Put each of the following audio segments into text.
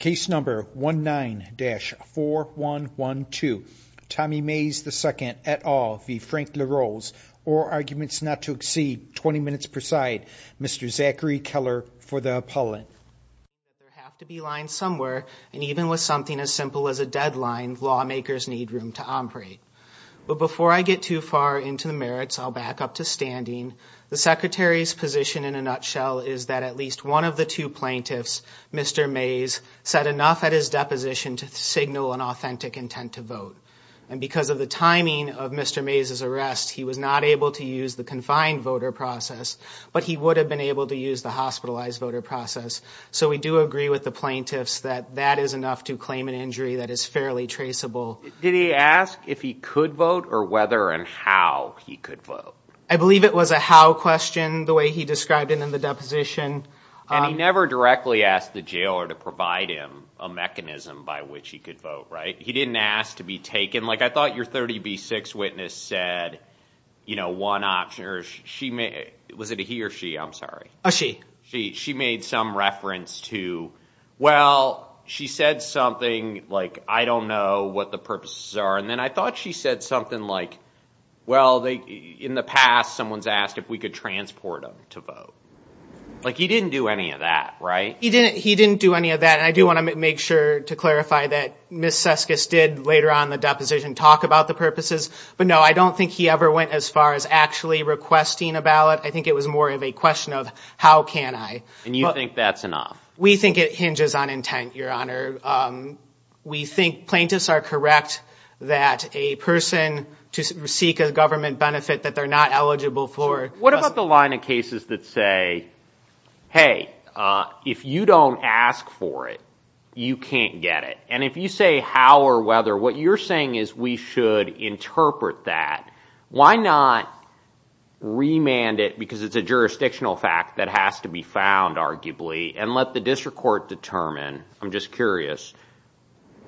Case number 19-4112, Tommy Mays II et al v. Frank LaRose, or arguments not to exceed 20 minutes per side, Mr. Zachary Keller for the appellate. There have to be lines somewhere, and even with something as simple as a deadline, lawmakers need room to operate. But before I get too far into the merits, I'll back up to standing. The Secretary's position in a nutshell is that at least one of the two plaintiffs, Mr. Mays, said enough at his deposition to signal an authentic intent to vote. And because of the timing of Mr. Mays' arrest, he was not able to use the confined voter process, but he would have been able to use the hospitalized voter process. So we do agree with the plaintiffs that that is enough to claim an injury that is fairly traceable. Did he ask if he could vote, or whether and how he could vote? I believe it was a how question, the way he described it in the deposition. And he never directly asked the jailer to provide him a mechanism by which he could vote, right? He didn't ask to be taken. Like, I thought your 30B6 witness said, you know, one option, or she made, was it a he or she? I'm sorry. A she. She made some reference to, well, she said something like, I don't know what the purposes are. And then I thought she said something like, well, in the past, someone's asked if we could transport them to vote. Like, he didn't do any of that, right? He didn't do any of that. And I do want to make sure to clarify that Ms. Seskis did, later on in the deposition, talk about the purposes. But no, I don't think he ever went as far as actually requesting a ballot. I think it was more of a question of, how can I? And you think that's enough? We think it hinges on intent, Your Honor. We think plaintiffs are correct that a person to seek a government benefit that they're not eligible for. What about the line of cases that say, hey, if you don't ask for it, you can't get it? And if you say how or whether, what you're saying is we should interpret that. Why not remand it, because it's a jurisdictional fact that has to be found, arguably, and let the district court determine, I'm just curious,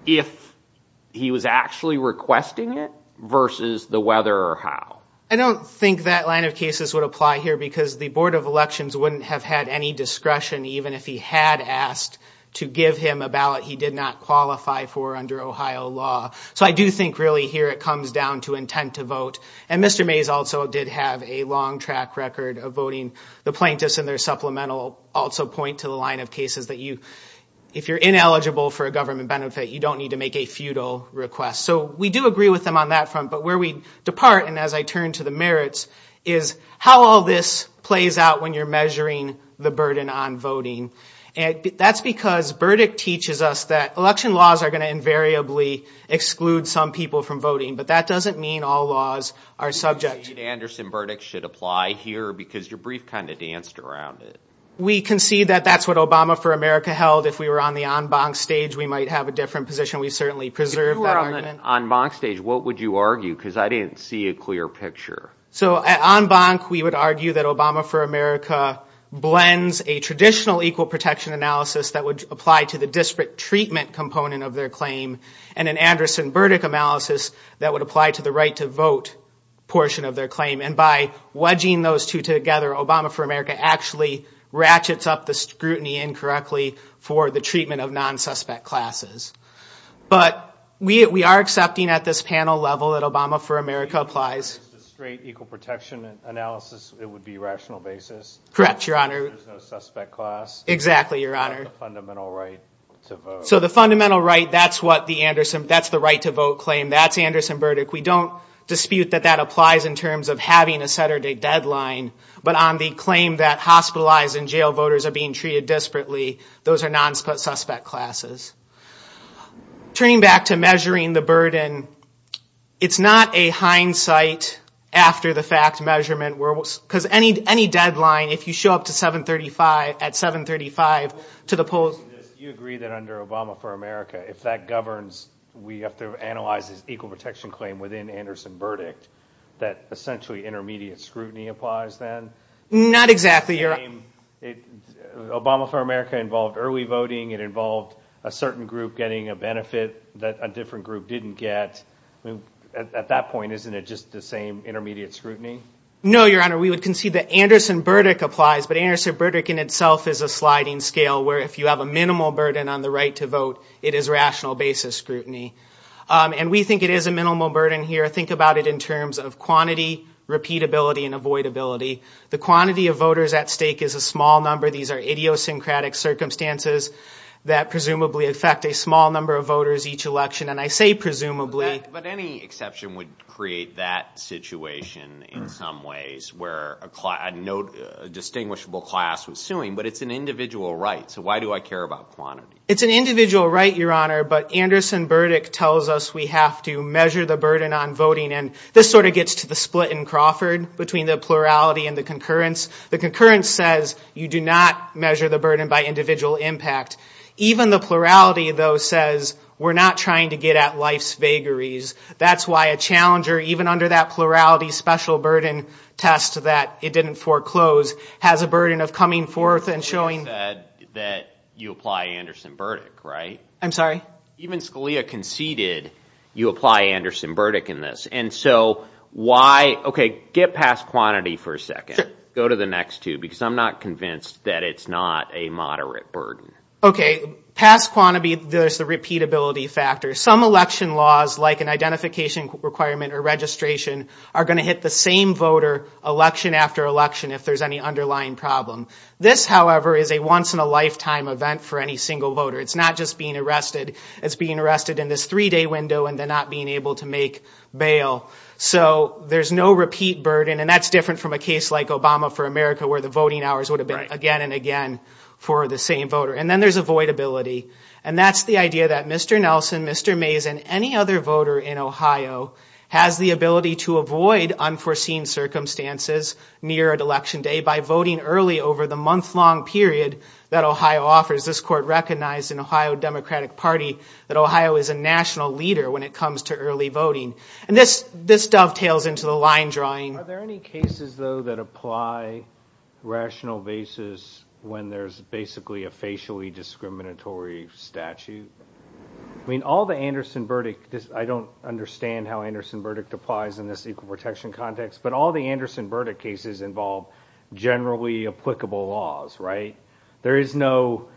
if he was actually requesting it versus the whether or how? I don't think that line of cases would apply here, because the Board of Elections wouldn't have had any discretion, even if he had asked to give him a ballot he did not qualify for under Ohio law. So I do think, really, here it comes down to intent to vote. And Mr. Mays also did have a long track record of voting. The plaintiffs in their supplemental also point to the line of cases that you, if you're ineligible for a government benefit, you don't need to make a feudal request. So we do agree with them on that front. But where we depart, and as I turn to the merits, is how all this plays out when you're measuring the burden on voting. That's because Burdick teaches us that election laws are going to invariably exclude some people from voting. But that doesn't mean all laws are subject to that. I think Anderson Burdick should apply here, because your brief kind of danced around it. We concede that that's what Obama for America held. If we were on the en banc stage, we might have a different position. We've certainly preserved that argument. On the en banc stage, what would you argue? Because I didn't see a clear picture. So at en banc, we would argue that Obama for America blends a traditional equal protection analysis that would apply to the disparate treatment component of their claim, and an Anderson Burdick analysis that would apply to the right to vote portion of their claim. And by wedging those two together, Obama for America actually ratchets up the scrutiny incorrectly for the treatment of non-suspect classes. But we are accepting at this panel level that Obama for America applies. So if you used a straight equal protection analysis, it would be rational basis? Correct, Your Honor. There's no suspect class? Exactly, Your Honor. There's a fundamental right to vote. So the fundamental right, that's the right to vote claim. That's Anderson Burdick. We don't dispute that that applies in terms of having a Saturday deadline. But on the claim that hospitalized and jail voters are being treated disparately, those are non-suspect classes. Turning back to measuring the burden, it's not a hindsight after the fact measurement. Because any deadline, if you show up at 735 to the polls... You agree that under Obama for America, if that governs, we have to analyze this equal protection claim within Anderson Burdick, that essentially intermediate scrutiny applies then? Not exactly, Your Honor. Obama for America involved early voting. It involved a certain group getting a benefit that a different group didn't get. At that point, isn't it just the same intermediate scrutiny? No, Your Honor. We would concede that Anderson Burdick applies. But Anderson Burdick in itself is a sliding scale where if you have a minimal burden on the right to vote, it is rational basis scrutiny. And we think it is a minimal burden here. Think about it in terms of quantity, repeatability, and avoidability. The quantity of voters at stake is a small number. These are idiosyncratic circumstances that presumably affect a small number of voters each election. And I say presumably... But any exception would create that situation in some ways where a distinguishable class was suing. But it's an individual right. So why do I care about quantity? It's an individual right, Your Honor. But Anderson Burdick tells us we have to measure the burden on voting. And this sort of gets to the split in Crawford between the plurality and the concurrence. The concurrence says you do not measure the burden by individual impact. Even the plurality, though, says we're not trying to get at life's vagaries. That's why a challenger, even under that plurality special burden test that it didn't foreclose, has a burden of coming forth and showing... You said that you apply Anderson Burdick, right? I'm sorry? Even Scalia conceded you apply Anderson Burdick in this. And so why... Okay, get past quantity for a second. Go to the next two, because I'm not convinced that it's not a moderate burden. Okay, past quantity, there's the repeatability factor. Some election laws, like an identification requirement or registration, are going to hit the same voter election after election if there's any underlying problem. This, however, is a once-in-a-lifetime event for any single voter. It's not just being arrested. It's being arrested in this three-day window and then not being able to make bail. So there's no repeat burden, and that's different from a case like Obama for America where the voting hours would have been again and again for the same voter. And then there's avoidability. And that's the idea that Mr. Nelson, Mr. Mays, and any other voter in Ohio has the ability to avoid unforeseen circumstances near an election day by voting early over the month-long period that Ohio offers. This court recognized in Ohio Democratic Party that Ohio is a national leader when it comes to early voting. And this dovetails into the line drawing. Are there any cases, though, that apply rational basis when there's basically a facially discriminatory statute? I mean, all the Anderson-Burdick, I don't understand how Anderson-Burdick applies in this equal protection context, but all the Anderson-Burdick cases involve generally applicable laws, right? There is no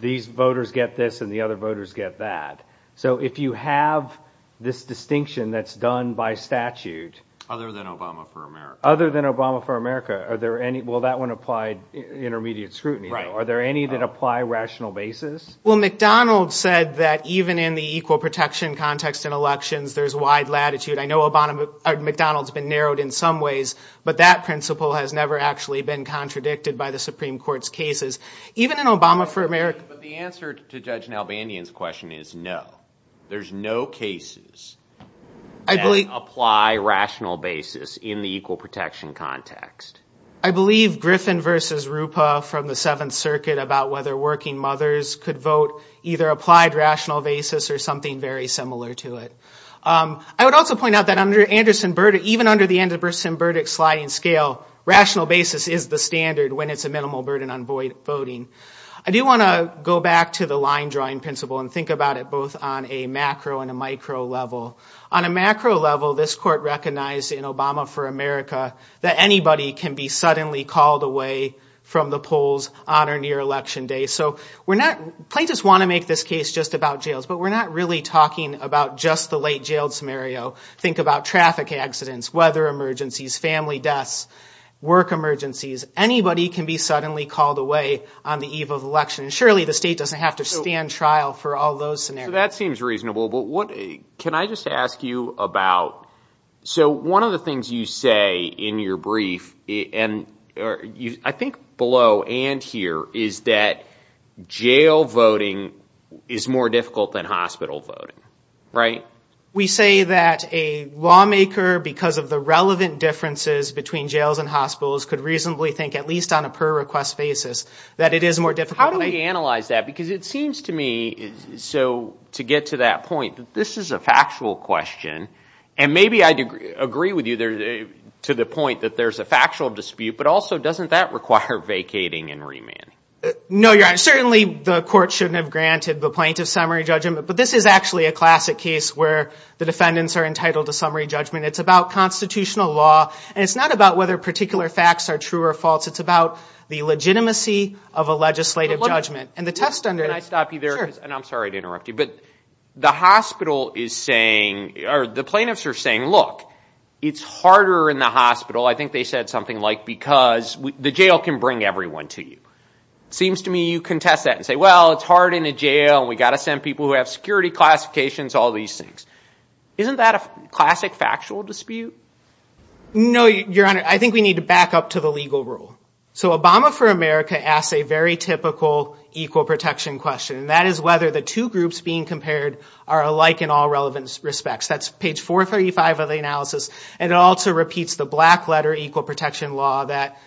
these voters get this and the other voters get that. So if you have this distinction that's done by statute. Other than Obama for America. Other than Obama for America. Well, that one applied intermediate scrutiny. Are there any that apply rational basis? Well, McDonald said that even in the equal protection context in elections, there's wide latitude. I know McDonald's been narrowed in some ways, but that principle has never actually been contradicted by the Supreme Court's cases. Even in Obama for America. But the answer to Judge Nalbandian's question is no. There's no cases that apply rational basis in the equal protection context. I believe Griffin versus Rupa from the Seventh Circuit about whether working mothers could vote either applied rational basis or something very similar to it. I would also point out that even under the Anderson-Burdick sliding scale, rational basis is the standard when it's a minimal burden on voting. I do want to go back to the line drawing principle and think about it both on a macro and a micro level. On a macro level, this court recognized in Obama for America that anybody can be suddenly called away from the polls on or near election day. So plaintiffs want to make this case just about jails, but we're not really talking about just the late jailed scenario. Think about traffic accidents, weather emergencies, family deaths, work emergencies. Anybody can be suddenly called away on the eve of election. Surely the state doesn't have to stand trial for all those scenarios. So that seems reasonable, but can I just ask you about, so one of the things you say in your brief, and I think below and here, is that jail voting is more difficult than hospital voting, right? We say that a lawmaker, because of the relevant differences between jails and hospitals, could reasonably think, at least on a per-request basis, that it is more difficult. How do we analyze that? Because it seems to me, so to get to that point, that this is a factual question, and maybe I agree with you to the point that there's a factual dispute, but also doesn't that require vacating and remanding? No, Your Honor. Certainly the court shouldn't have granted the plaintiff summary judgment, but this is actually a classic case where the defendants are entitled to summary judgment. It's about constitutional law, and it's not about whether particular facts are true or false. It's about the legitimacy of a legislative judgment. And the test under the... Can I stop you there? Sure. And I'm sorry to interrupt you, but the hospital is saying, or the plaintiffs are saying, look, it's harder in the hospital, I think they said something like, because the jail can bring everyone to you. It seems to me you contest that and say, well, it's hard in a jail, and we've got to send people who have security classifications, all these things. Isn't that a classic factual dispute? No, Your Honor. I think we need to back up to the legal rule. So Obama for America asks a very typical equal protection question, and that is whether the two groups being compared are alike in all relevant respects. That's page 435 of the analysis, and it also repeats the black letter equal protection law that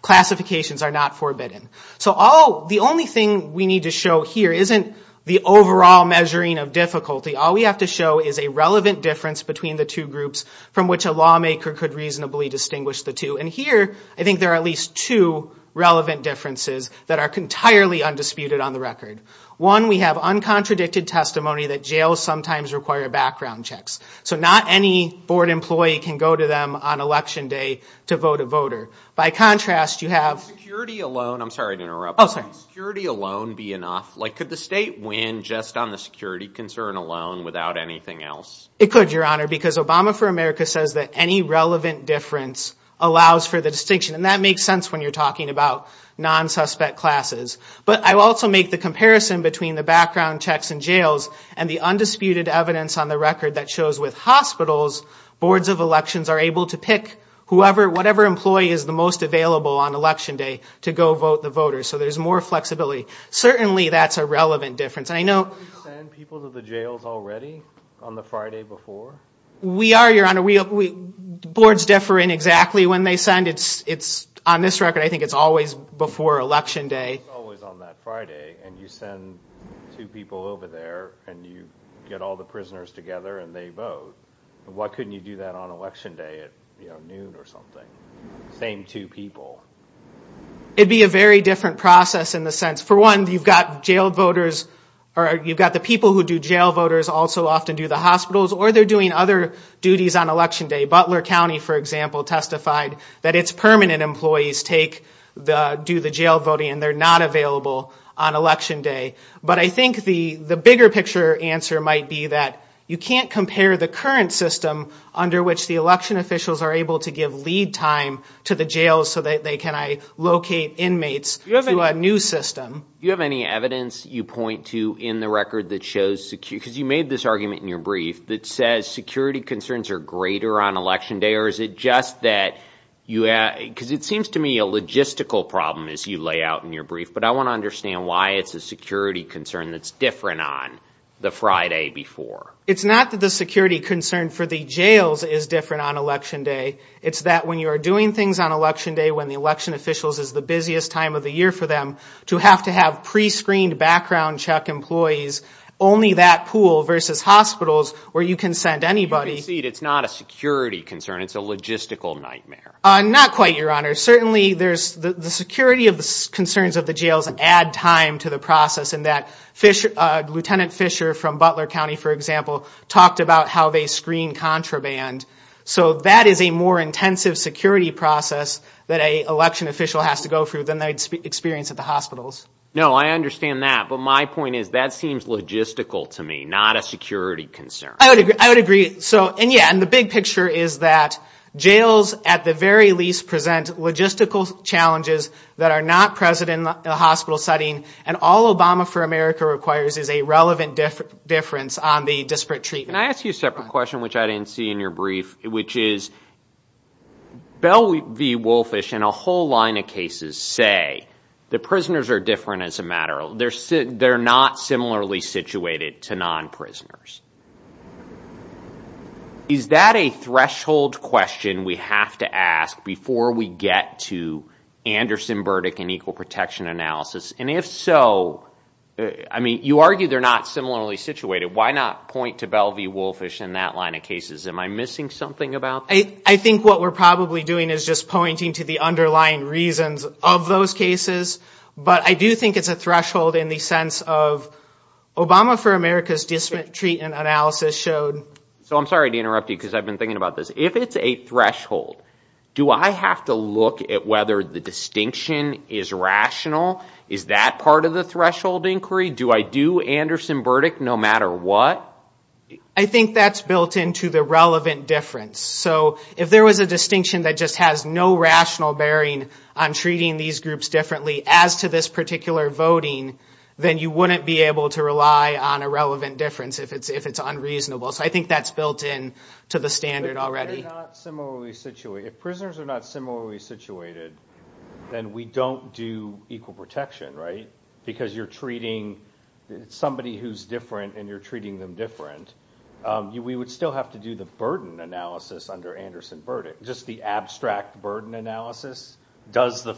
classifications are not forbidden. So the only thing we need to show here isn't the overall measuring of difficulty. All we have to show is a relevant difference between the two groups from which a lawmaker could reasonably distinguish the two. And here I think there are at least two relevant differences that are entirely undisputed on the record. One, we have uncontradicted testimony that jails sometimes require background checks. So not any board employee can go to them on Election Day to vote a voter. By contrast, you have... Could security alone be enough? Like, could the state win just on the security concern alone without anything else? It could, Your Honor, because Obama for America says that any relevant difference allows for the distinction, and that makes sense when you're talking about non-suspect classes. But I also make the comparison between the background checks in jails and the undisputed evidence on the record that shows with hospitals, boards of elections are able to pick whatever employee is the most available on Election Day to go vote the voters, so there's more flexibility. Certainly that's a relevant difference. And I know... Do you send people to the jails already on the Friday before? We are, Your Honor. Boards differ in exactly when they send. On this record, I think it's always before Election Day. It's always on that Friday, and you send two people over there, and you get all the prisoners together, and they vote. Why couldn't you do that on Election Day at noon or something? Same two people. It'd be a very different process in the sense, for one, you've got jail voters, or you've got the people who do jail voters also often do the hospitals, or they're doing other duties on Election Day. Butler County, for example, testified that its permanent employees do the jail voting, and they're not available on Election Day. But I think the bigger picture answer might be that you can't compare the current system under which the election officials are able to give lead time to the jails so that they can locate inmates to a new system. Do you have any evidence you point to in the record that shows security? Because you made this argument in your brief that says security concerns are greater on Election Day, or is it just that you... Because it seems to me a logistical problem as you lay out in your brief, but I want to understand why it's a security concern that's different on the Friday before. It's not that the security concern for the jails is different on Election Day. It's that when you are doing things on Election Day, when the election officials is the busiest time of the year for them, to have to have pre-screened background check employees, only that pool versus hospitals where you can send anybody... You can see it's not a security concern. It's a logistical nightmare. Not quite, Your Honor. Certainly, the security concerns of the jails add time to the process in that Lieutenant Fisher from Butler County, for example, talked about how they screen contraband. So that is a more intensive security process that an election official has to go through than they experience at the hospitals. No, I understand that. But my point is that seems logistical to me, not a security concern. I would agree. And the big picture is that jails, at the very least, present logistical challenges that are not present in a hospital setting, and all Obama for America requires is a relevant difference on the disparate treatment. Can I ask you a separate question, which I didn't see in your brief, which is, Bell v. Wolffish and a whole line of cases say that prisoners are different as a matter of... They're not similarly situated to non-prisoners. Is that a threshold question we have to ask before we get to Anderson-Burdick and equal protection analysis? And if so, I mean, you argue they're not similarly situated. Why not point to Bell v. Wolffish and that line of cases? Am I missing something about that? I think what we're probably doing is just pointing to the underlying reasons of those cases. But I do think it's a threshold in the sense of Obama for America's disparate treatment analysis showed... So I'm sorry to interrupt you because I've been thinking about this. If it's a threshold, do I have to look at whether the distinction is rational? Is that part of the threshold inquiry? Do I do Anderson-Burdick no matter what? I think that's built into the relevant difference. So if there was a distinction that just has no rational bearing on treating these groups differently as to this particular voting, then you wouldn't be able to rely on a relevant difference if it's unreasonable. So I think that's built in to the standard already. If prisoners are not similarly situated, then we don't do equal protection, right? Because you're treating somebody who's different and you're treating them different. We would still have to do the burden analysis under Anderson-Burdick. Just the abstract burden analysis. Does the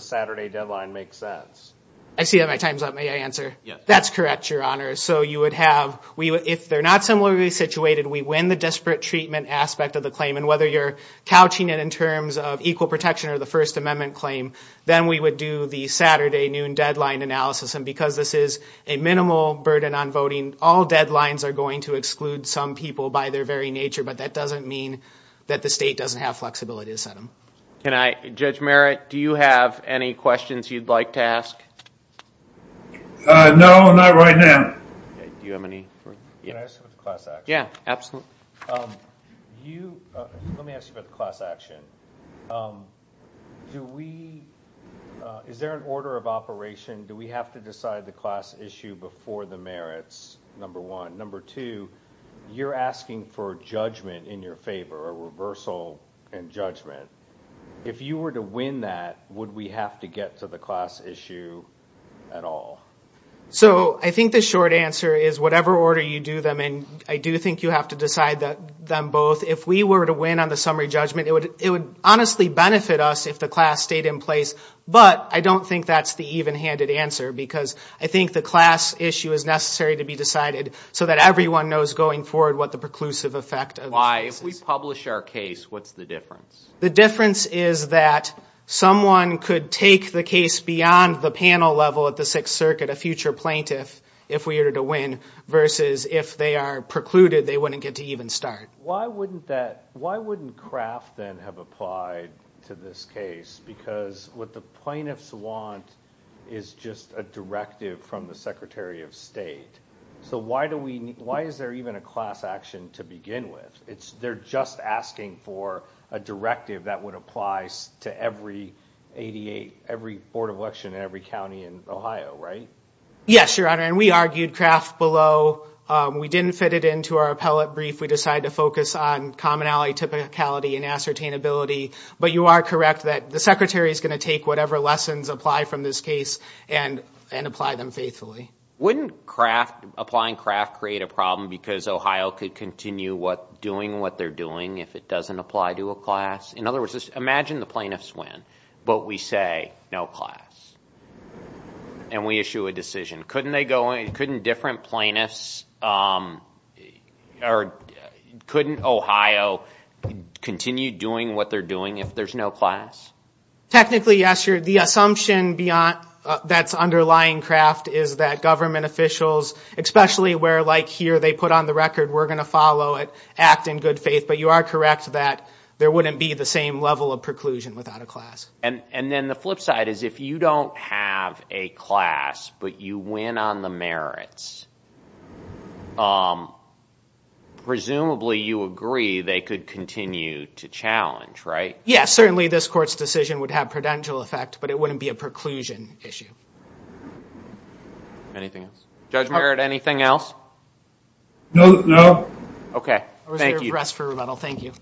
Saturday deadline make sense? I see that my time's up. May I answer? That's correct, Your Honor. So you would have, if they're not similarly situated, we win the desperate treatment aspect of the claim. And whether you're couching it in terms of equal protection or the First Amendment claim, then we would do the Saturday noon deadline analysis. And because this is a minimal burden on voting, all deadlines are going to exclude some people by their very nature. But that doesn't mean that the state doesn't have flexibility to set them. Judge Merritt, do you have any questions you'd like to ask? No, not right now. Do you have any? Can I ask about the class action? Yeah, absolutely. Let me ask you about the class action. Is there an order of operation? Do we have to decide the class issue before the merits, number one? Number two, you're asking for judgment in your favor, a reversal in judgment. If you were to win that, would we have to get to the class issue at all? So I think the short answer is whatever order you do them in, I do think you have to decide them both. If we were to win on the summary judgment, it would honestly benefit us if the class stayed in place. But I don't think that's the even-handed answer because I think the class issue is necessary to be decided so that everyone knows going forward what the preclusive effect of this is. Why, if we publish our case, what's the difference? The difference is that someone could take the case beyond the panel level at the Sixth Circuit, a future plaintiff, if we were to win, versus if they are precluded, they wouldn't get to even start. Why wouldn't Kraft then have applied to this case? Because what the plaintiffs want is just a directive from the Secretary of State. So why is there even a class action to begin with? They're just asking for a directive that would apply to every 88, every board of election in every county in Ohio, right? Yes, Your Honor, and we argued Kraft below. We didn't fit it into our appellate brief. We decided to focus on commonality, typicality, and ascertainability. But you are correct that the Secretary is going to take whatever lessons apply from this case and apply them faithfully. Wouldn't applying Kraft create a problem because Ohio could continue doing what they're doing if it doesn't apply to a class? In other words, imagine the plaintiffs win, but we say no class, and we issue a decision. Couldn't different plaintiffs or couldn't Ohio continue doing what they're doing if there's no class? Technically, yes, Your Honor. The assumption that's underlying Kraft is that government officials, especially where, like here, they put on the record, we're going to follow it, act in good faith. But you are correct that there wouldn't be the same level of preclusion without a class. And then the flip side is if you don't have a class but you win on the merits, presumably you agree they could continue to challenge, right? Yes, certainly this court's decision would have prudential effect, but it wouldn't be a preclusion issue. Anything else? Judge Merritt, anything else? No. Thank you. I'll reserve the rest for rebuttal. Thank you.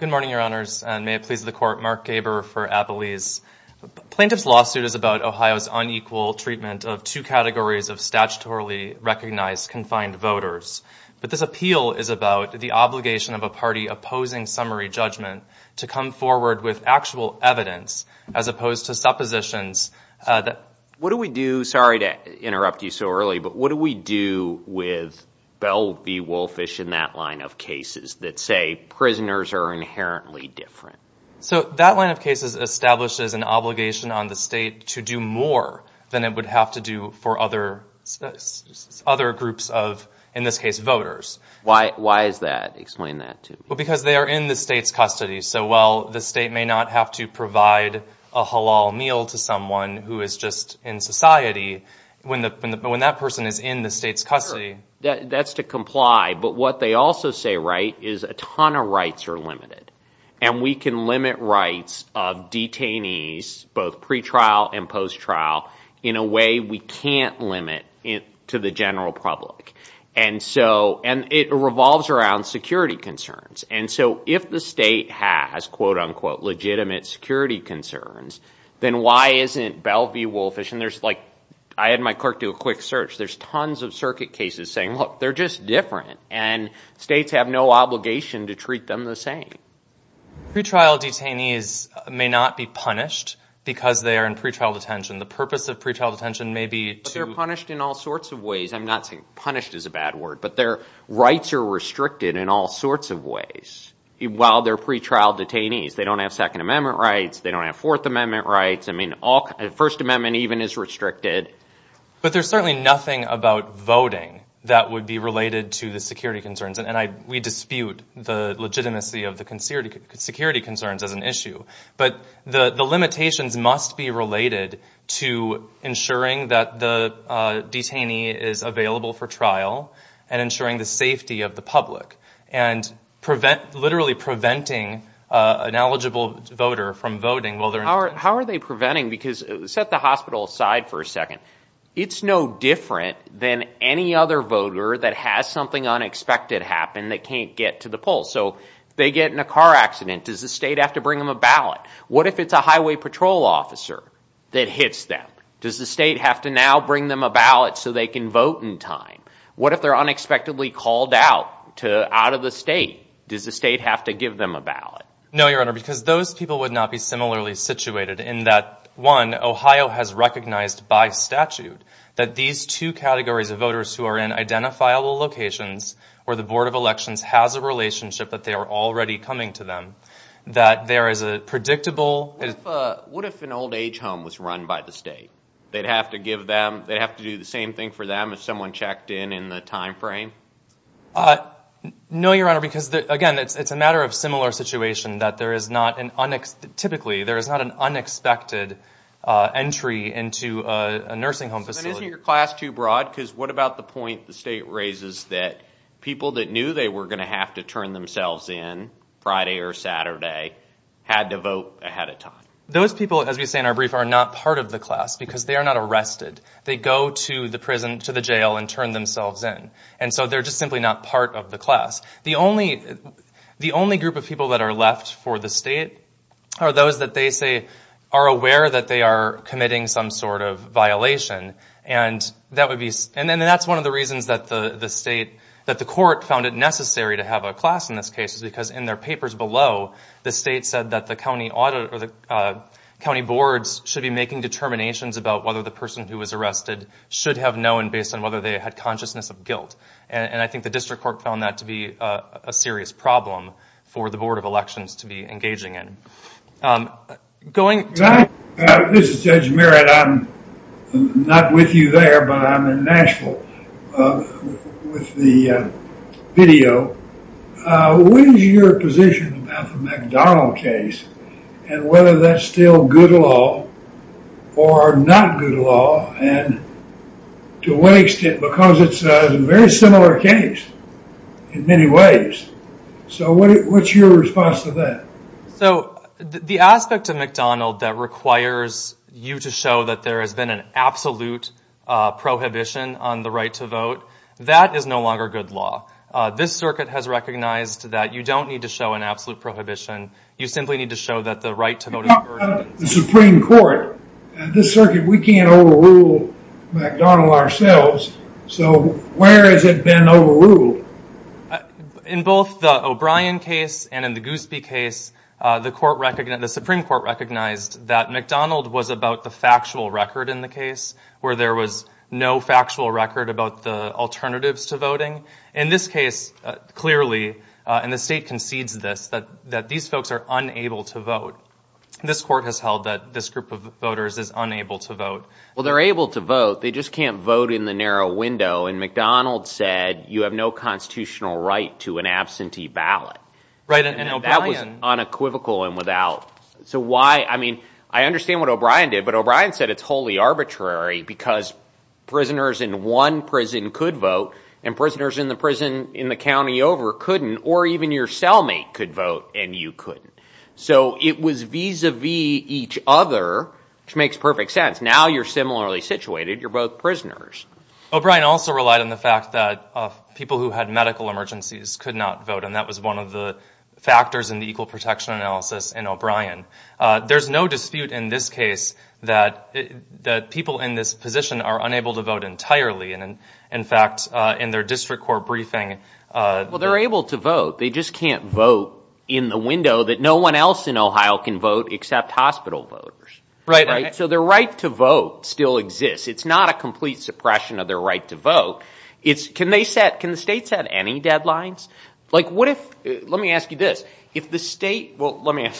Good morning, Your Honors, and may it please the court, Mark Gaber for Appalese. Plaintiff's lawsuit is about Ohio's unequal treatment of two categories of statutorily recognized confined voters. But this appeal is about the obligation of a party opposing summary judgment to come forward with actual evidence as opposed to suppositions. What do we do? Sorry to interrupt you so early, but what do we do with Bell v. Woolfish in that line of cases that say prisoners are inherently different? So that line of cases establishes an obligation on the state to do more than it would have to do for other groups of, in this case, voters. Why is that? Explain that to me. Well, because they are in the state's custody. So while the state may not have to provide a halal meal to someone who is just in society, when that person is in the state's custody. Sure, that's to comply. But what they also say, right, is a ton of rights are limited, and we can limit rights of detainees, both pre-trial and post-trial, in a way we can't limit to the general public. And it revolves around security concerns. And so if the state has, quote, unquote, legitimate security concerns, then why isn't Bell v. Woolfish, and I had my clerk do a quick search. There's tons of circuit cases saying, look, they're just different, and states have no obligation to treat them the same. Pre-trial detainees may not be punished because they are in pre-trial detention. The purpose of pre-trial detention may be to. But they're punished in all sorts of ways. I'm not saying punished is a bad word, but their rights are restricted in all sorts of ways while they're pre-trial detainees. They don't have Second Amendment rights. They don't have Fourth Amendment rights. I mean, First Amendment even is restricted. But there's certainly nothing about voting that would be related to the security concerns. And we dispute the legitimacy of the security concerns as an issue. But the limitations must be related to ensuring that the detainee is available for trial and ensuring the safety of the public. And literally preventing an eligible voter from voting. How are they preventing? Because set the hospital aside for a second. It's no different than any other voter that has something unexpected happen that can't get to the polls. So they get in a car accident. Does the state have to bring them a ballot? What if it's a highway patrol officer that hits them? Does the state have to now bring them a ballot so they can vote in time? What if they're unexpectedly called out out of the state? Does the state have to give them a ballot? No, Your Honor, because those people would not be similarly situated in that, one, Ohio has recognized by statute that these two categories of voters who are in identifiable locations where the Board of Elections has a relationship that they are already coming to them, that there is a predictable... What if an old age home was run by the state? They'd have to do the same thing for them if someone checked in in the time frame? No, Your Honor, because, again, it's a matter of similar situation that there is not an... Typically, there is not an unexpected entry into a nursing home facility. But isn't your class too broad? Because what about the point the state raises that people that knew they were going to have to turn themselves in Friday or Saturday had to vote ahead of time? Those people, as we say in our brief, are not part of the class because they are not arrested. They go to the prison, to the jail, and turn themselves in. And so they're just simply not part of the class. The only group of people that are left for the state are those that they say are aware that they are committing some sort of violation. And that's one of the reasons that the court found it necessary to have a class in this case, because in their papers below, the state said that the county boards should be making determinations about whether the person who was arrested should have known based on whether they had consciousness of guilt. And I think the district court found that to be a serious problem for the Board of Elections to be engaging in. Going to... This is Judge Merritt. I'm not with you there, but I'm in Nashville with the video. What is your position about the McDonald case and whether that's still good law or not good law? And to what extent? Because it's a very similar case in many ways. So what's your response to that? So the aspect of McDonald that requires you to show that there has been an absolute prohibition on the right to vote, that is no longer good law. This circuit has recognized that you don't need to show an absolute prohibition. You simply need to show that the right to vote... The Supreme Court, this circuit, we can't overrule McDonald ourselves. So where has it been overruled? In both the O'Brien case and in the Goosby case, the Supreme Court recognized that McDonald was about the factual record in the case, where there was no factual record about the alternatives to voting. In this case, clearly, and the state concedes this, that these folks are unable to vote. This court has held that this group of voters is unable to vote. Well, they're able to vote, they just can't vote in the narrow window, and McDonald said you have no constitutional right to an absentee ballot. Right, and O'Brien... And that was unequivocal and without... So why, I mean, I understand what O'Brien did, but O'Brien said it's wholly arbitrary because prisoners in one prison could vote and prisoners in the prison in the county over couldn't, or even your cellmate could vote and you couldn't. So it was vis-a-vis each other, which makes perfect sense. Now you're similarly situated. You're both prisoners. O'Brien also relied on the fact that people who had medical emergencies could not vote, and that was one of the factors in the equal protection analysis in O'Brien. There's no dispute in this case that people in this position are unable to vote entirely, and, in fact, in their district court briefing... Well, they're able to vote. They just can't vote in the window that no one else in Ohio can vote except hospital voters. Right. So their right to vote still exists. It's not a complete suppression of their right to vote. Can the states have any deadlines? Let me ask you this. If the state... Well, let me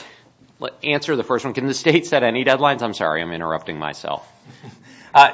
answer the first one. Can the state set any deadlines? I'm sorry. I'm interrupting myself.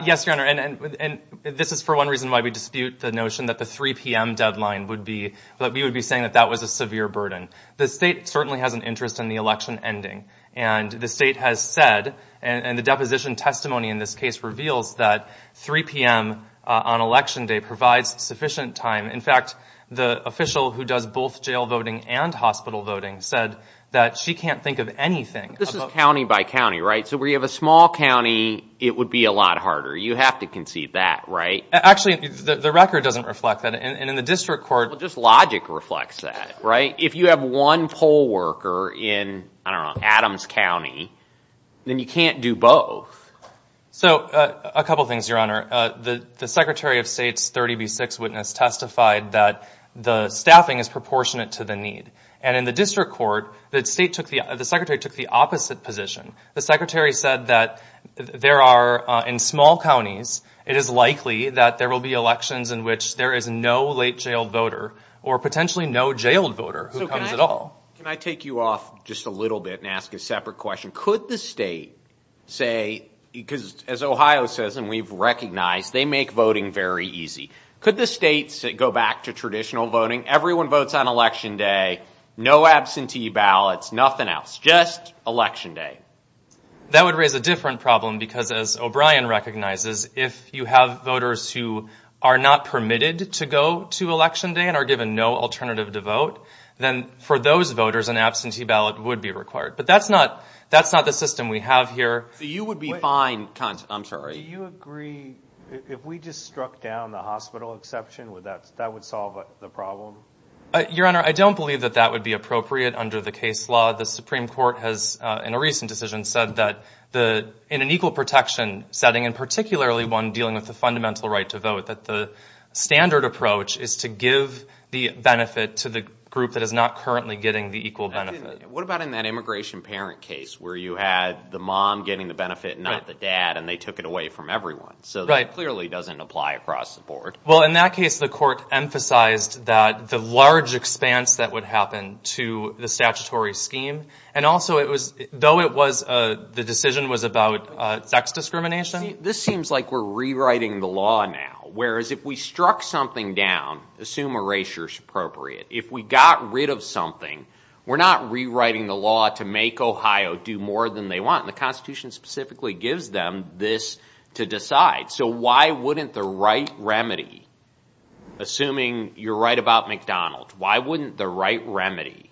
Yes, Your Honor, and this is for one reason why we dispute the notion that the 3 p.m. deadline would be... that we would be saying that that was a severe burden. The state certainly has an interest in the election ending, and the state has said, and the deposition testimony in this case reveals, that 3 p.m. on Election Day provides sufficient time. In fact, the official who does both jail voting and hospital voting said that she can't think of anything... This is county by county, right? So where you have a small county, it would be a lot harder. You have to concede that, right? Actually, the record doesn't reflect that, and in the district court, just logic reflects that, right? If you have one poll worker in, I don't know, Adams County, then you can't do both. So a couple things, Your Honor. The Secretary of State's 30B6 witness testified that the staffing is proportionate to the need, and in the district court, the Secretary took the opposite position. The Secretary said that there are, in small counties, it is likely that there will be elections in which there is no late jailed voter or potentially no jailed voter who comes at all. Can I take you off just a little bit and ask a separate question? Could the state say, because as Ohio says and we've recognized, they make voting very easy. Could the state go back to traditional voting? Everyone votes on Election Day, no absentee ballots, nothing else, just Election Day. That would raise a different problem because, as O'Brien recognizes, if you have voters who are not permitted to go to Election Day and are given no alternative to vote, then for those voters, an absentee ballot would be required. But that's not the system we have here. So you would be fine, I'm sorry. Do you agree, if we just struck down the hospital exception, that would solve the problem? Your Honor, I don't believe that that would be appropriate under the case law. The Supreme Court has, in a recent decision, said that in an equal protection setting, and particularly one dealing with the fundamental right to vote, that the standard approach is to give the benefit to the group that is not currently getting the equal benefit. What about in that immigration parent case where you had the mom getting the benefit, not the dad, and they took it away from everyone? So that clearly doesn't apply across the board. Well, in that case, the court emphasized that the large expanse that would happen to the statutory scheme, and also it was, though it was, the decision was about sex discrimination. This seems like we're rewriting the law now. Whereas if we struck something down, assume erasure is appropriate. If we got rid of something, we're not rewriting the law to make Ohio do more than they want. The Constitution specifically gives them this to decide. So why wouldn't the right remedy, assuming you're right about McDonald's, why wouldn't the right remedy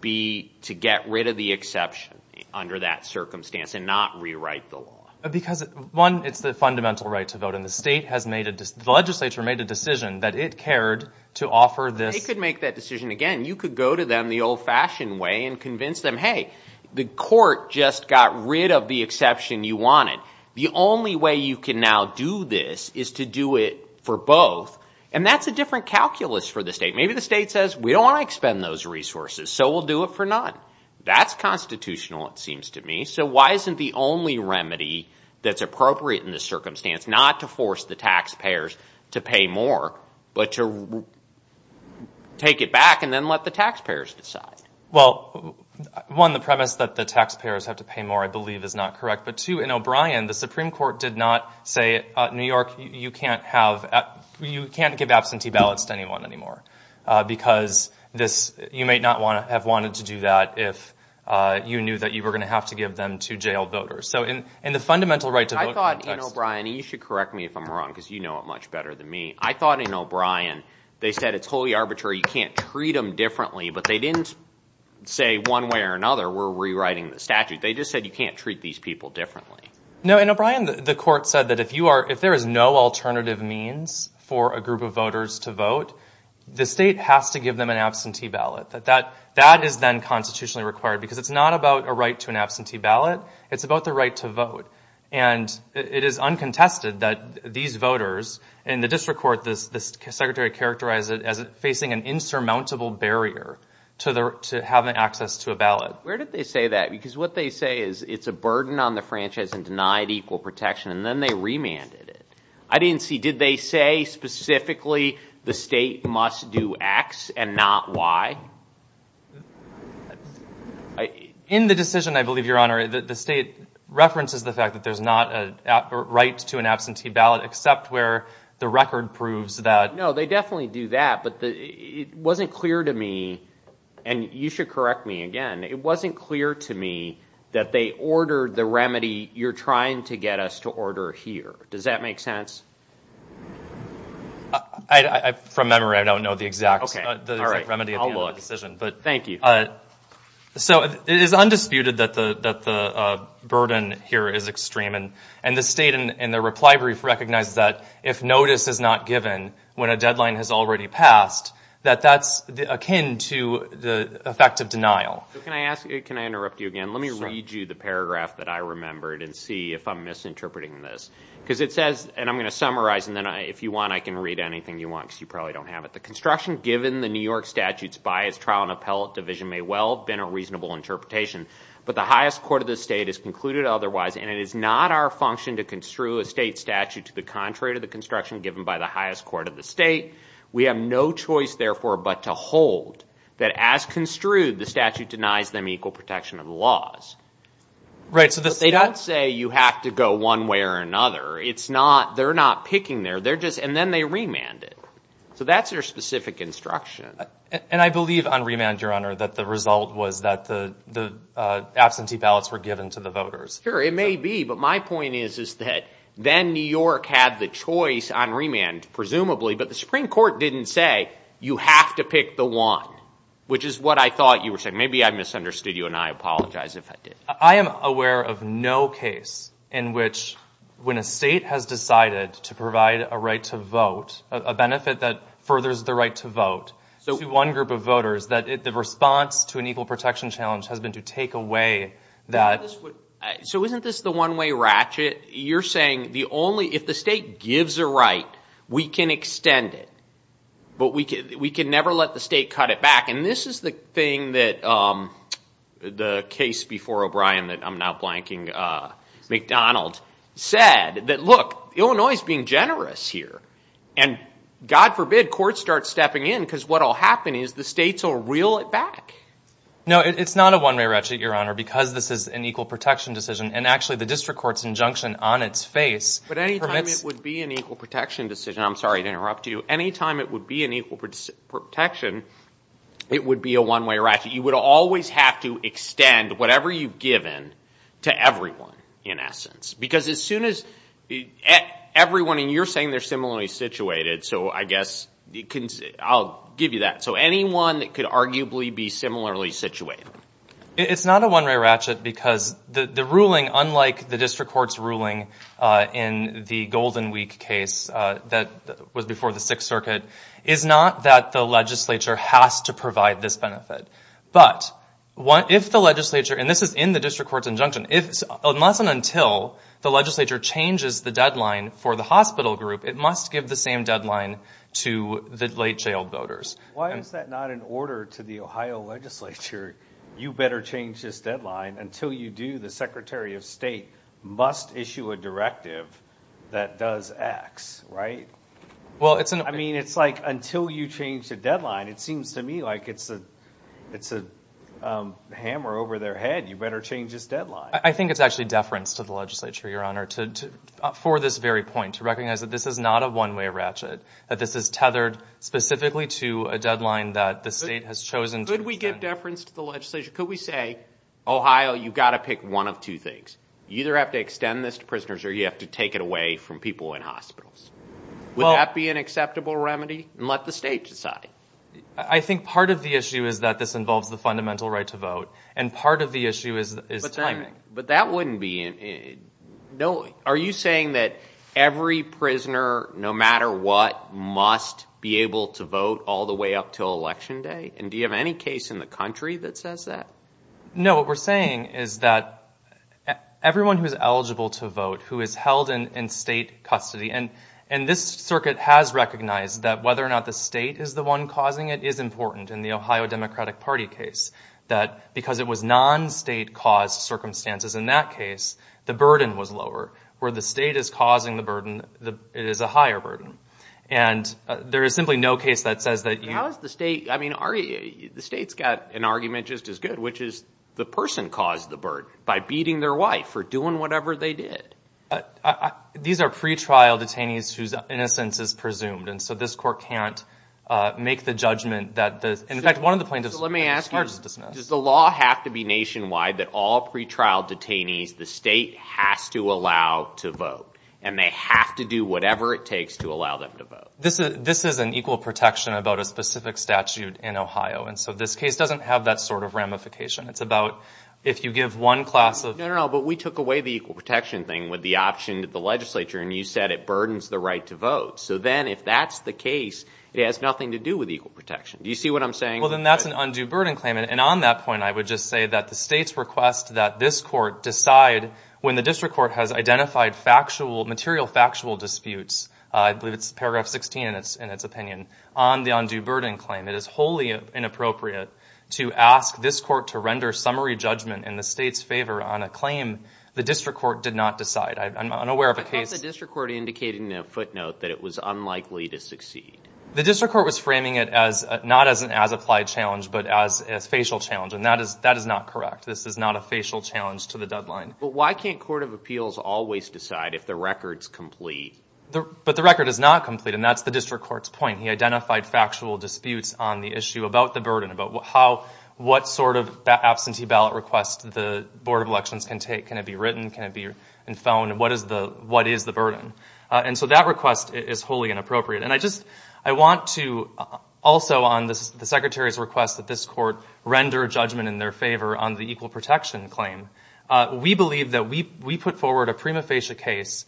be to get rid of the exception under that circumstance and not rewrite the law? Because, one, it's the fundamental right to vote, and the state has made a decision, the legislature made a decision that it cared to offer this. They could make that decision again. You could go to them the old-fashioned way and convince them, hey, the court just got rid of the exception you wanted. The only way you can now do this is to do it for both, and that's a different calculus for the state. Maybe the state says, we don't want to expend those resources, so we'll do it for none. That's constitutional, it seems to me. So why isn't the only remedy that's appropriate in this circumstance not to force the taxpayers to pay more, but to take it back and then let the taxpayers decide? Well, one, the premise that the taxpayers have to pay more, I believe, is not correct. But, two, in O'Brien, the Supreme Court did not say, New York, you can't give absentee ballots to anyone anymore, because you may not have wanted to do that if you knew that you were going to have to give them to jailed voters. So in the fundamental right to vote context. I thought in O'Brien, and you should correct me if I'm wrong, because you know it much better than me, I thought in O'Brien they said it's wholly arbitrary, you can't treat them differently, but they didn't say one way or another we're rewriting the statute. They just said you can't treat these people differently. No, in O'Brien, the court said that if there is no alternative means for a group of voters to vote, the state has to give them an absentee ballot. That is then constitutionally required, because it's not about a right to an absentee ballot, it's about the right to vote. And it is uncontested that these voters, and the district court, the secretary characterized it as facing an insurmountable barrier to having access to a ballot. Where did they say that? Because what they say is it's a burden on the franchise and denied equal protection, and then they remanded it. I didn't see, did they say specifically the state must do X and not Y? In the decision, I believe, Your Honor, the state references the fact that there's not a right to an absentee ballot except where the record proves that. No, they definitely do that, but it wasn't clear to me, and you should correct me again, it wasn't clear to me that they ordered the remedy you're trying to get us to order here. Does that make sense? From memory, I don't know the exact remedy of the decision. Thank you. So it is undisputed that the burden here is extreme, and the state in the reply brief recognizes that if notice is not given when a deadline has already passed, that that's akin to the effect of denial. Can I ask, can I interrupt you again? Let me read you the paragraph that I remembered and see if I'm misinterpreting this. Because it says, and I'm going to summarize, and then if you want I can read anything you want because you probably don't have it. The construction given the New York statutes by its trial and appellate division may well have been a reasonable interpretation, but the highest court of the state has concluded otherwise, and it is not our function to construe a state statute to the contrary to the construction given by the highest court of the state. We have no choice, therefore, but to hold that as construed, the statute denies them equal protection of the laws. But they don't say you have to go one way or another. It's not, they're not picking there. They're just, and then they remand it. So that's their specific instruction. And I believe on remand, Your Honor, that the result was that the absentee ballots were given to the voters. Sure, it may be, but my point is that then New York had the choice on remand, presumably, but the Supreme Court didn't say you have to pick the one, which is what I thought you were saying. Maybe I misunderstood you and I apologize if I did. I am aware of no case in which when a state has decided to provide a right to vote, a benefit that furthers the right to vote to one group of voters, that the response to an equal protection challenge has been to take away that. So isn't this the one-way ratchet? You're saying the only, if the state gives a right, we can extend it, but we can never let the state cut it back. And this is the thing that the case before O'Brien that I'm now blanking, McDonald said that, look, Illinois is being generous here. And God forbid courts start stepping in because what will happen is the states will reel it back. No, it's not a one-way ratchet, Your Honor, because this is an equal protection decision. And actually the district court's injunction on its face. But any time it would be an equal protection decision, I'm sorry to interrupt you, any time it would be an equal protection, it would be a one-way ratchet. You would always have to extend whatever you've given to everyone, in essence. Because as soon as everyone, and you're saying they're similarly situated, so I guess I'll give you that. So anyone that could arguably be similarly situated. It's not a one-way ratchet because the ruling, unlike the district court's ruling in the Golden Week case that was before the Sixth Circuit, is not that the legislature has to provide this benefit. But if the legislature, and this is in the district court's injunction, unless and until the legislature changes the deadline for the hospital group, it must give the same deadline to the late jailed voters. Why is that not an order to the Ohio legislature? You better change this deadline. Until you do, the Secretary of State must issue a directive that does X, right? I mean, it's like, until you change the deadline, it seems to me like it's a hammer over their head. You better change this deadline. I think it's actually deference to the legislature, Your Honor, for this very point. To recognize that this is not a one-way ratchet. That this is tethered specifically to a deadline that the state has chosen to extend. Could we give deference to the legislature? Could we say, Ohio, you've got to pick one of two things. You either have to extend this to prisoners or you have to take it away from people in hospitals. Would that be an acceptable remedy? And let the state decide. I think part of the issue is that this involves the fundamental right to vote. And part of the issue is timing. But that wouldn't be – Are you saying that every prisoner, no matter what, must be able to vote all the way up until Election Day? And do you have any case in the country that says that? No, what we're saying is that everyone who is eligible to vote, who is held in state custody – and this circuit has recognized that whether or not the state is the one causing it is important in the Ohio Democratic Party case. That because it was non-state-caused circumstances in that case, the burden was lower. Where the state is causing the burden, it is a higher burden. And there is simply no case that says that you – How is the state – I mean, the state's got an argument just as good, which is the person caused the burden by beating their wife or doing whatever they did. These are pretrial detainees whose innocence is presumed. And so this court can't make the judgment that – Does the law have to be nationwide that all pretrial detainees, the state has to allow to vote? And they have to do whatever it takes to allow them to vote? This is an equal protection about a specific statute in Ohio. And so this case doesn't have that sort of ramification. It's about if you give one class of – No, no, no, but we took away the equal protection thing with the option that the legislature – and you said it burdens the right to vote. So then if that's the case, it has nothing to do with equal protection. Do you see what I'm saying? Well, then that's an undue burden claim. And on that point, I would just say that the state's request that this court decide when the district court has identified factual – material factual disputes, I believe it's paragraph 16 in its opinion, on the undue burden claim. It is wholly inappropriate to ask this court to render summary judgment in the state's favor on a claim the district court did not decide. I'm unaware of a case – I thought the district court indicated in a footnote that it was unlikely to succeed. The district court was framing it as – not as an as-applied challenge, but as a facial challenge, and that is not correct. This is not a facial challenge to the deadline. But why can't court of appeals always decide if the record's complete? But the record is not complete, and that's the district court's point. He identified factual disputes on the issue about the burden, about what sort of absentee ballot request the board of elections can take. Can it be written? Can it be in phone? What is the burden? And so that request is wholly inappropriate. And I just – I want to also on the secretary's request that this court render judgment in their favor on the equal protection claim. We believe that we put forward a prima facie case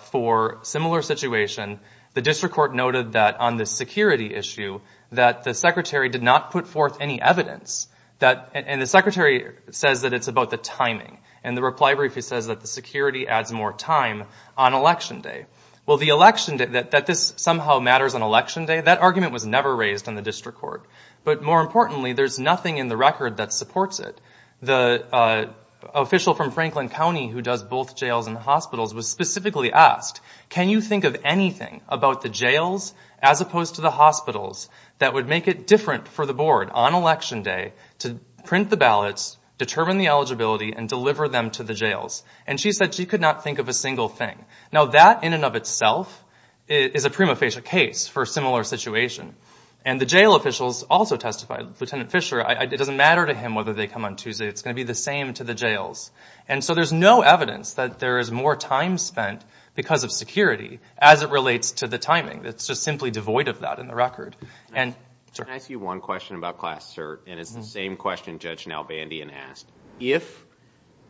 for a similar situation. The district court noted that on the security issue that the secretary did not put forth any evidence. And the secretary says that it's about the timing. And the reply brief says that the security adds more time on election day. Well, the election – that this somehow matters on election day, that argument was never raised in the district court. But more importantly, there's nothing in the record that supports it. The official from Franklin County who does both jails and hospitals was specifically asked, can you think of anything about the jails as opposed to the hospitals that would make it different for the board on election day to print the ballots, determine the eligibility, and deliver them to the jails? And she said she could not think of a single thing. Now, that in and of itself is a prima facie case for a similar situation. And the jail officials also testified. Lieutenant Fischer, it doesn't matter to him whether they come on Tuesday. It's going to be the same to the jails. And so there's no evidence that there is more time spent because of security as it relates to the timing. It's just simply devoid of that in the record. Can I ask you one question about class cert? And it's the same question Judge Nalbandian asked.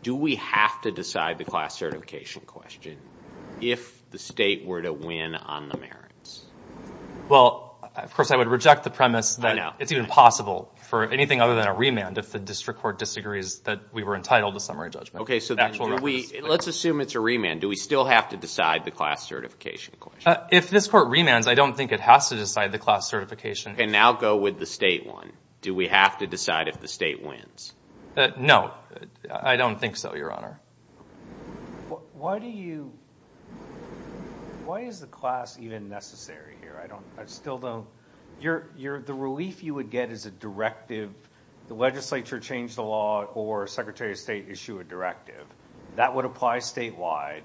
Do we have to decide the class certification question if the state were to win on the merits? Well, of course, I would reject the premise that it's even possible for anything other than a remand if the district court disagrees that we were entitled to summary judgment. Okay, so let's assume it's a remand. Do we still have to decide the class certification question? If this court remands, I don't think it has to decide the class certification. And now go with the state one. Do we have to decide if the state wins? No, I don't think so, Your Honor. Why do you—why is the class even necessary here? I still don't—the relief you would get is a directive, the legislature change the law or Secretary of State issue a directive. That would apply statewide.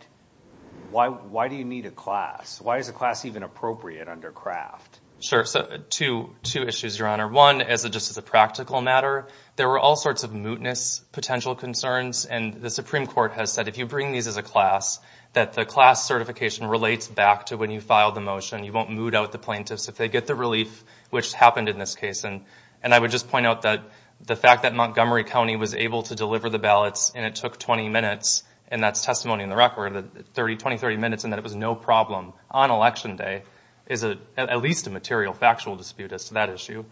Why do you need a class? Why is a class even appropriate under Kraft? Sure, so two issues, Your Honor. One, just as a practical matter, there were all sorts of mootness potential concerns, and the Supreme Court has said if you bring these as a class, that the class certification relates back to when you filed the motion. You won't moot out the plaintiffs if they get the relief, which happened in this case. And I would just point out that the fact that Montgomery County was able to deliver the ballots and it took 20 minutes, and that's testimony in the record, 20, 30 minutes, and that it was no problem on Election Day is at least a material factual dispute as to that issue.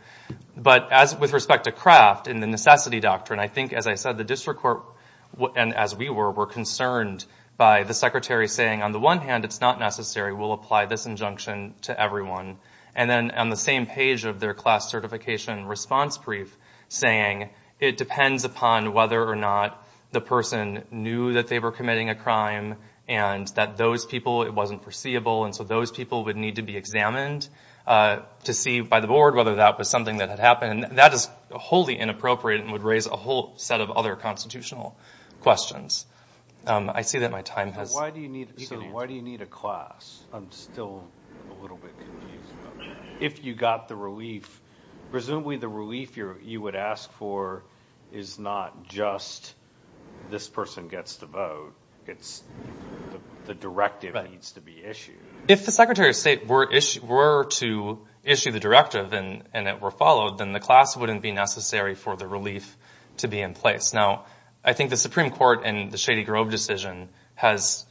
But with respect to Kraft and the necessity doctrine, I think, as I said, the district court, and as we were, were concerned by the secretary saying on the one hand, it's not necessary, we'll apply this injunction to everyone. And then on the same page of their class certification response brief, saying it depends upon whether or not the person knew that they were committing a crime and that those people, to see by the board whether that was something that had happened, that is wholly inappropriate and would raise a whole set of other constitutional questions. I see that my time has... Why do you need a class? I'm still a little bit confused about that. If you got the relief, presumably the relief you would ask for is not just this person gets to vote, it's the directive needs to be issued. If the Secretary of State were to issue the directive and it were followed, then the class wouldn't be necessary for the relief to be in place. Now, I think the Supreme Court in the Shady Grove decision has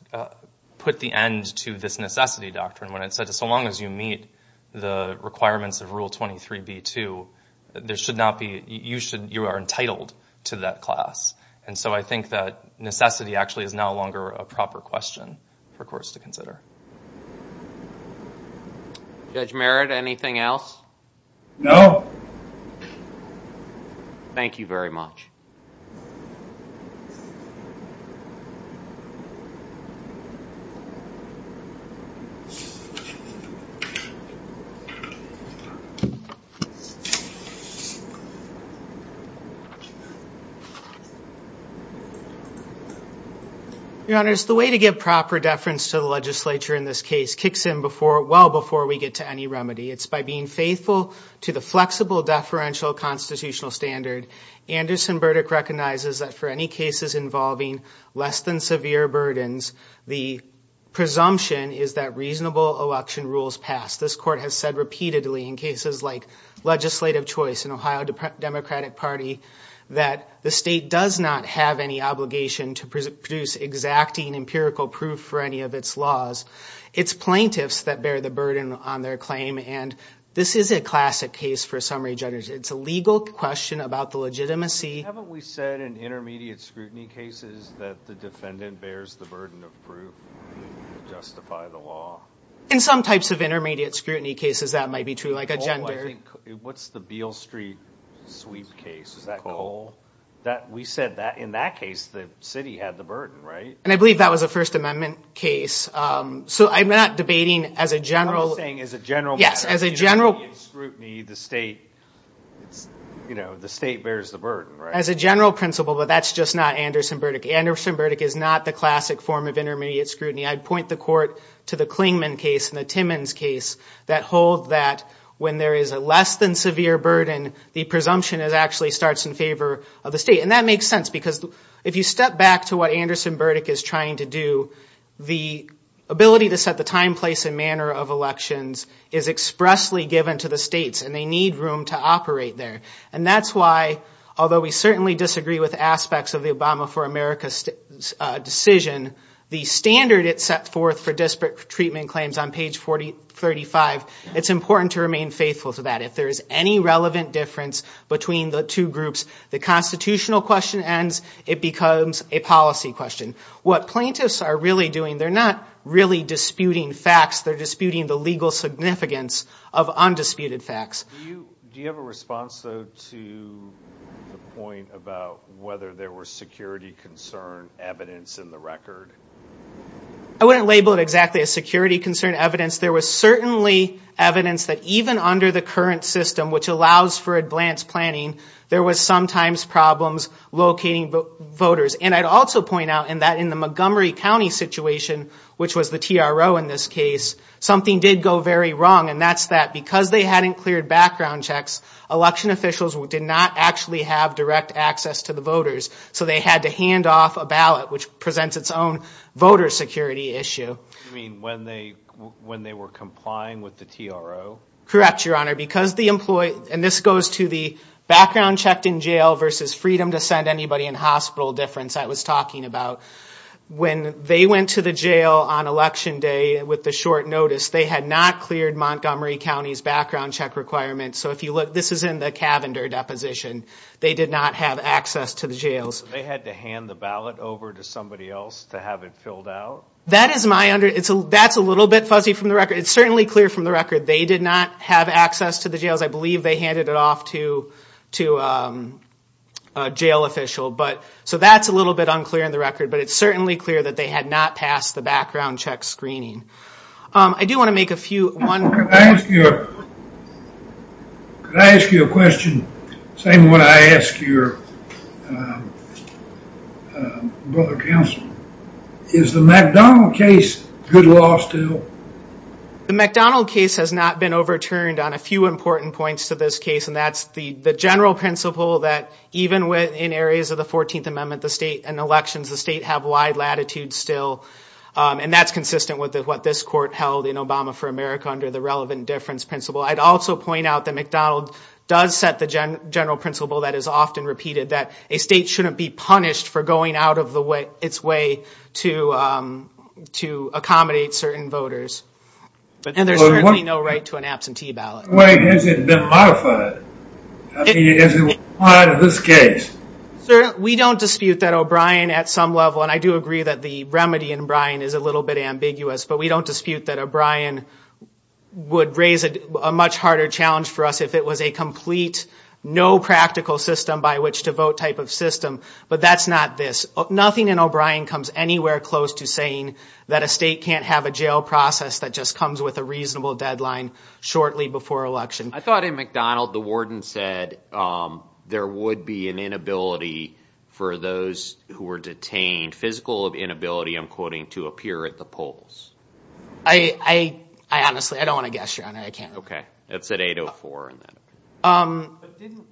put the end to this necessity doctrine when it said that so long as you meet the requirements of Rule 23b-2, you are entitled to that class. And so I think that necessity actually is no longer a proper question for courts to consider. Judge Merritt, anything else? No. Thank you very much. Thank you. Your Honors, the way to get proper deference to the legislature in this case kicks in well before we get to any remedy. It's by being faithful to the flexible deferential constitutional standard Anderson Burdick recognizes that for any cases involving less than severe burdens, the presumption is that reasonable election rules pass. This Court has said repeatedly in cases like legislative choice in Ohio Democratic Party that the state does not have any obligation to produce exacting empirical proof for any of its laws. It's plaintiffs that bear the burden on their claim and this is a classic case for summary judges. It's a legal question about the legitimacy. Haven't we said in intermediate scrutiny cases that the defendant bears the burden of proof to justify the law? In some types of intermediate scrutiny cases that might be true, like a gender. What's the Beale Street sweep case? Is that Cole? We said that in that case the city had the burden, right? And I believe that was a First Amendment case. So I'm not debating as a general... The state bears the burden, right? As a general principle, but that's just not Anderson Burdick. Anderson Burdick is not the classic form of intermediate scrutiny. I'd point the Court to the Clingman case and the Timmons case that hold that when there is a less than severe burden, the presumption actually starts in favor of the state. And that makes sense because if you step back to what Anderson Burdick is trying to do, the ability to set the time, place, and manner of elections is expressly given to the states, and they need room to operate there. And that's why, although we certainly disagree with aspects of the Obama for America decision, the standard it set forth for disparate treatment claims on page 35, it's important to remain faithful to that. If there is any relevant difference between the two groups, the constitutional question ends, it becomes a policy question. What plaintiffs are really doing, they're not really disputing facts, they're disputing the legal significance of undisputed facts. Do you have a response, though, to the point about whether there was security concern evidence in the record? I wouldn't label it exactly as security concern evidence. There was certainly evidence that even under the current system, which allows for advance planning, there was sometimes problems locating voters. And I'd also point out that in the Montgomery County situation, which was the TRO in this case, something did go very wrong. And that's that because they hadn't cleared background checks, election officials did not actually have direct access to the voters. So they had to hand off a ballot, which presents its own voter security issue. You mean when they were complying with the TRO? Correct, Your Honor. Because the employee, and this goes to the background checked in jail versus freedom to send anybody in hospital difference I was talking about. When they went to the jail on election day with the short notice, they had not cleared Montgomery County's background check requirements. So if you look, this is in the Cavender deposition. They did not have access to the jails. So they had to hand the ballot over to somebody else to have it filled out? That is my understanding. That's a little bit fuzzy from the record. It's certainly clear from the record. They did not have access to the jails. I believe they handed it off to a jail official. So that's a little bit unclear in the record. But it's certainly clear that they had not passed the background check screening. I do want to make a few. Could I ask you a question? Same one I ask your brother counsel. Is the McDonald case good law still? The McDonald case has not been overturned on a few important points to this case. And that's the general principle that even in areas of the 14th Amendment, the state and elections, the state have wide latitude still. And that's consistent with what this court held in Obama for America under the relevant difference principle. I'd also point out that McDonald does set the general principle that is often repeated, that a state shouldn't be punished for going out of its way to accommodate certain voters. And there's certainly no right to an absentee ballot. In what way has it been modified? I mean, has it been modified in this case? Sir, we don't dispute that O'Brien at some level, and I do agree that the remedy in O'Brien is a little bit ambiguous, but we don't dispute that O'Brien would raise a much harder challenge for us if it was a complete no practical system by which to vote type of system. But that's not this. Nothing in O'Brien comes anywhere close to saying that a state can't have a jail process that just comes with a reasonable deadline shortly before election. I thought in McDonald the warden said there would be an inability for those who were detained, physical inability, I'm quoting, to appear at the polls. I honestly don't want to guess, Your Honor. I can't. Okay. That's at 8.04.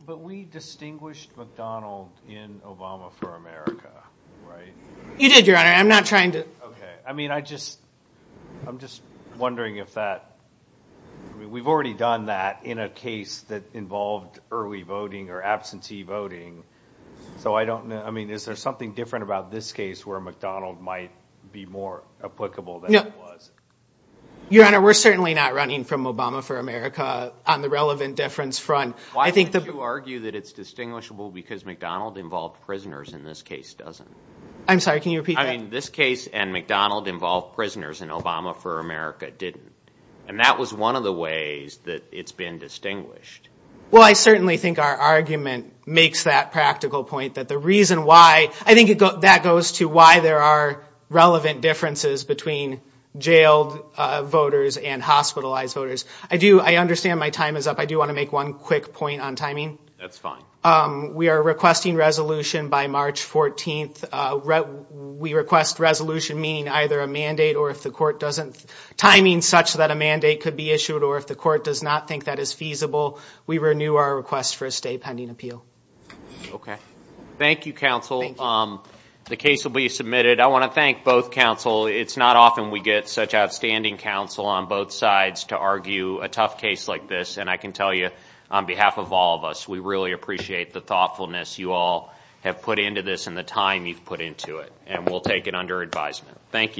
But we distinguished McDonald in Obama for America, right? You did, Your Honor. I'm not trying to. Okay. I mean, I'm just wondering if that we've already done that in a case that involved early voting or absentee voting, so I don't know. I mean, is there something different about this case where McDonald might be more applicable than it was? Your Honor, we're certainly not running from Obama for America on the relevant difference front. Why would you argue that it's distinguishable because McDonald involved prisoners in this case, doesn't it? I'm sorry. Can you repeat that? I'm sorry. This case and McDonald involved prisoners in Obama for America didn't, and that was one of the ways that it's been distinguished. Well, I certainly think our argument makes that practical point, that the reason why I think that goes to why there are relevant differences between jailed voters and hospitalized voters. I understand my time is up. I do want to make one quick point on timing. That's fine. We are requesting resolution by March 14th. We request resolution meaning either a mandate or if the court doesn't timing such that a mandate could be issued or if the court does not think that is feasible, we renew our request for a stay pending appeal. Okay. Thank you, counsel. The case will be submitted. I want to thank both counsel. It's not often we get such outstanding counsel on both sides to argue a tough case like this, and I can tell you on behalf of all of us, we really appreciate the thoughtfulness you all have put into this and the time you've put into it, and we'll take it under advisement. Thank you.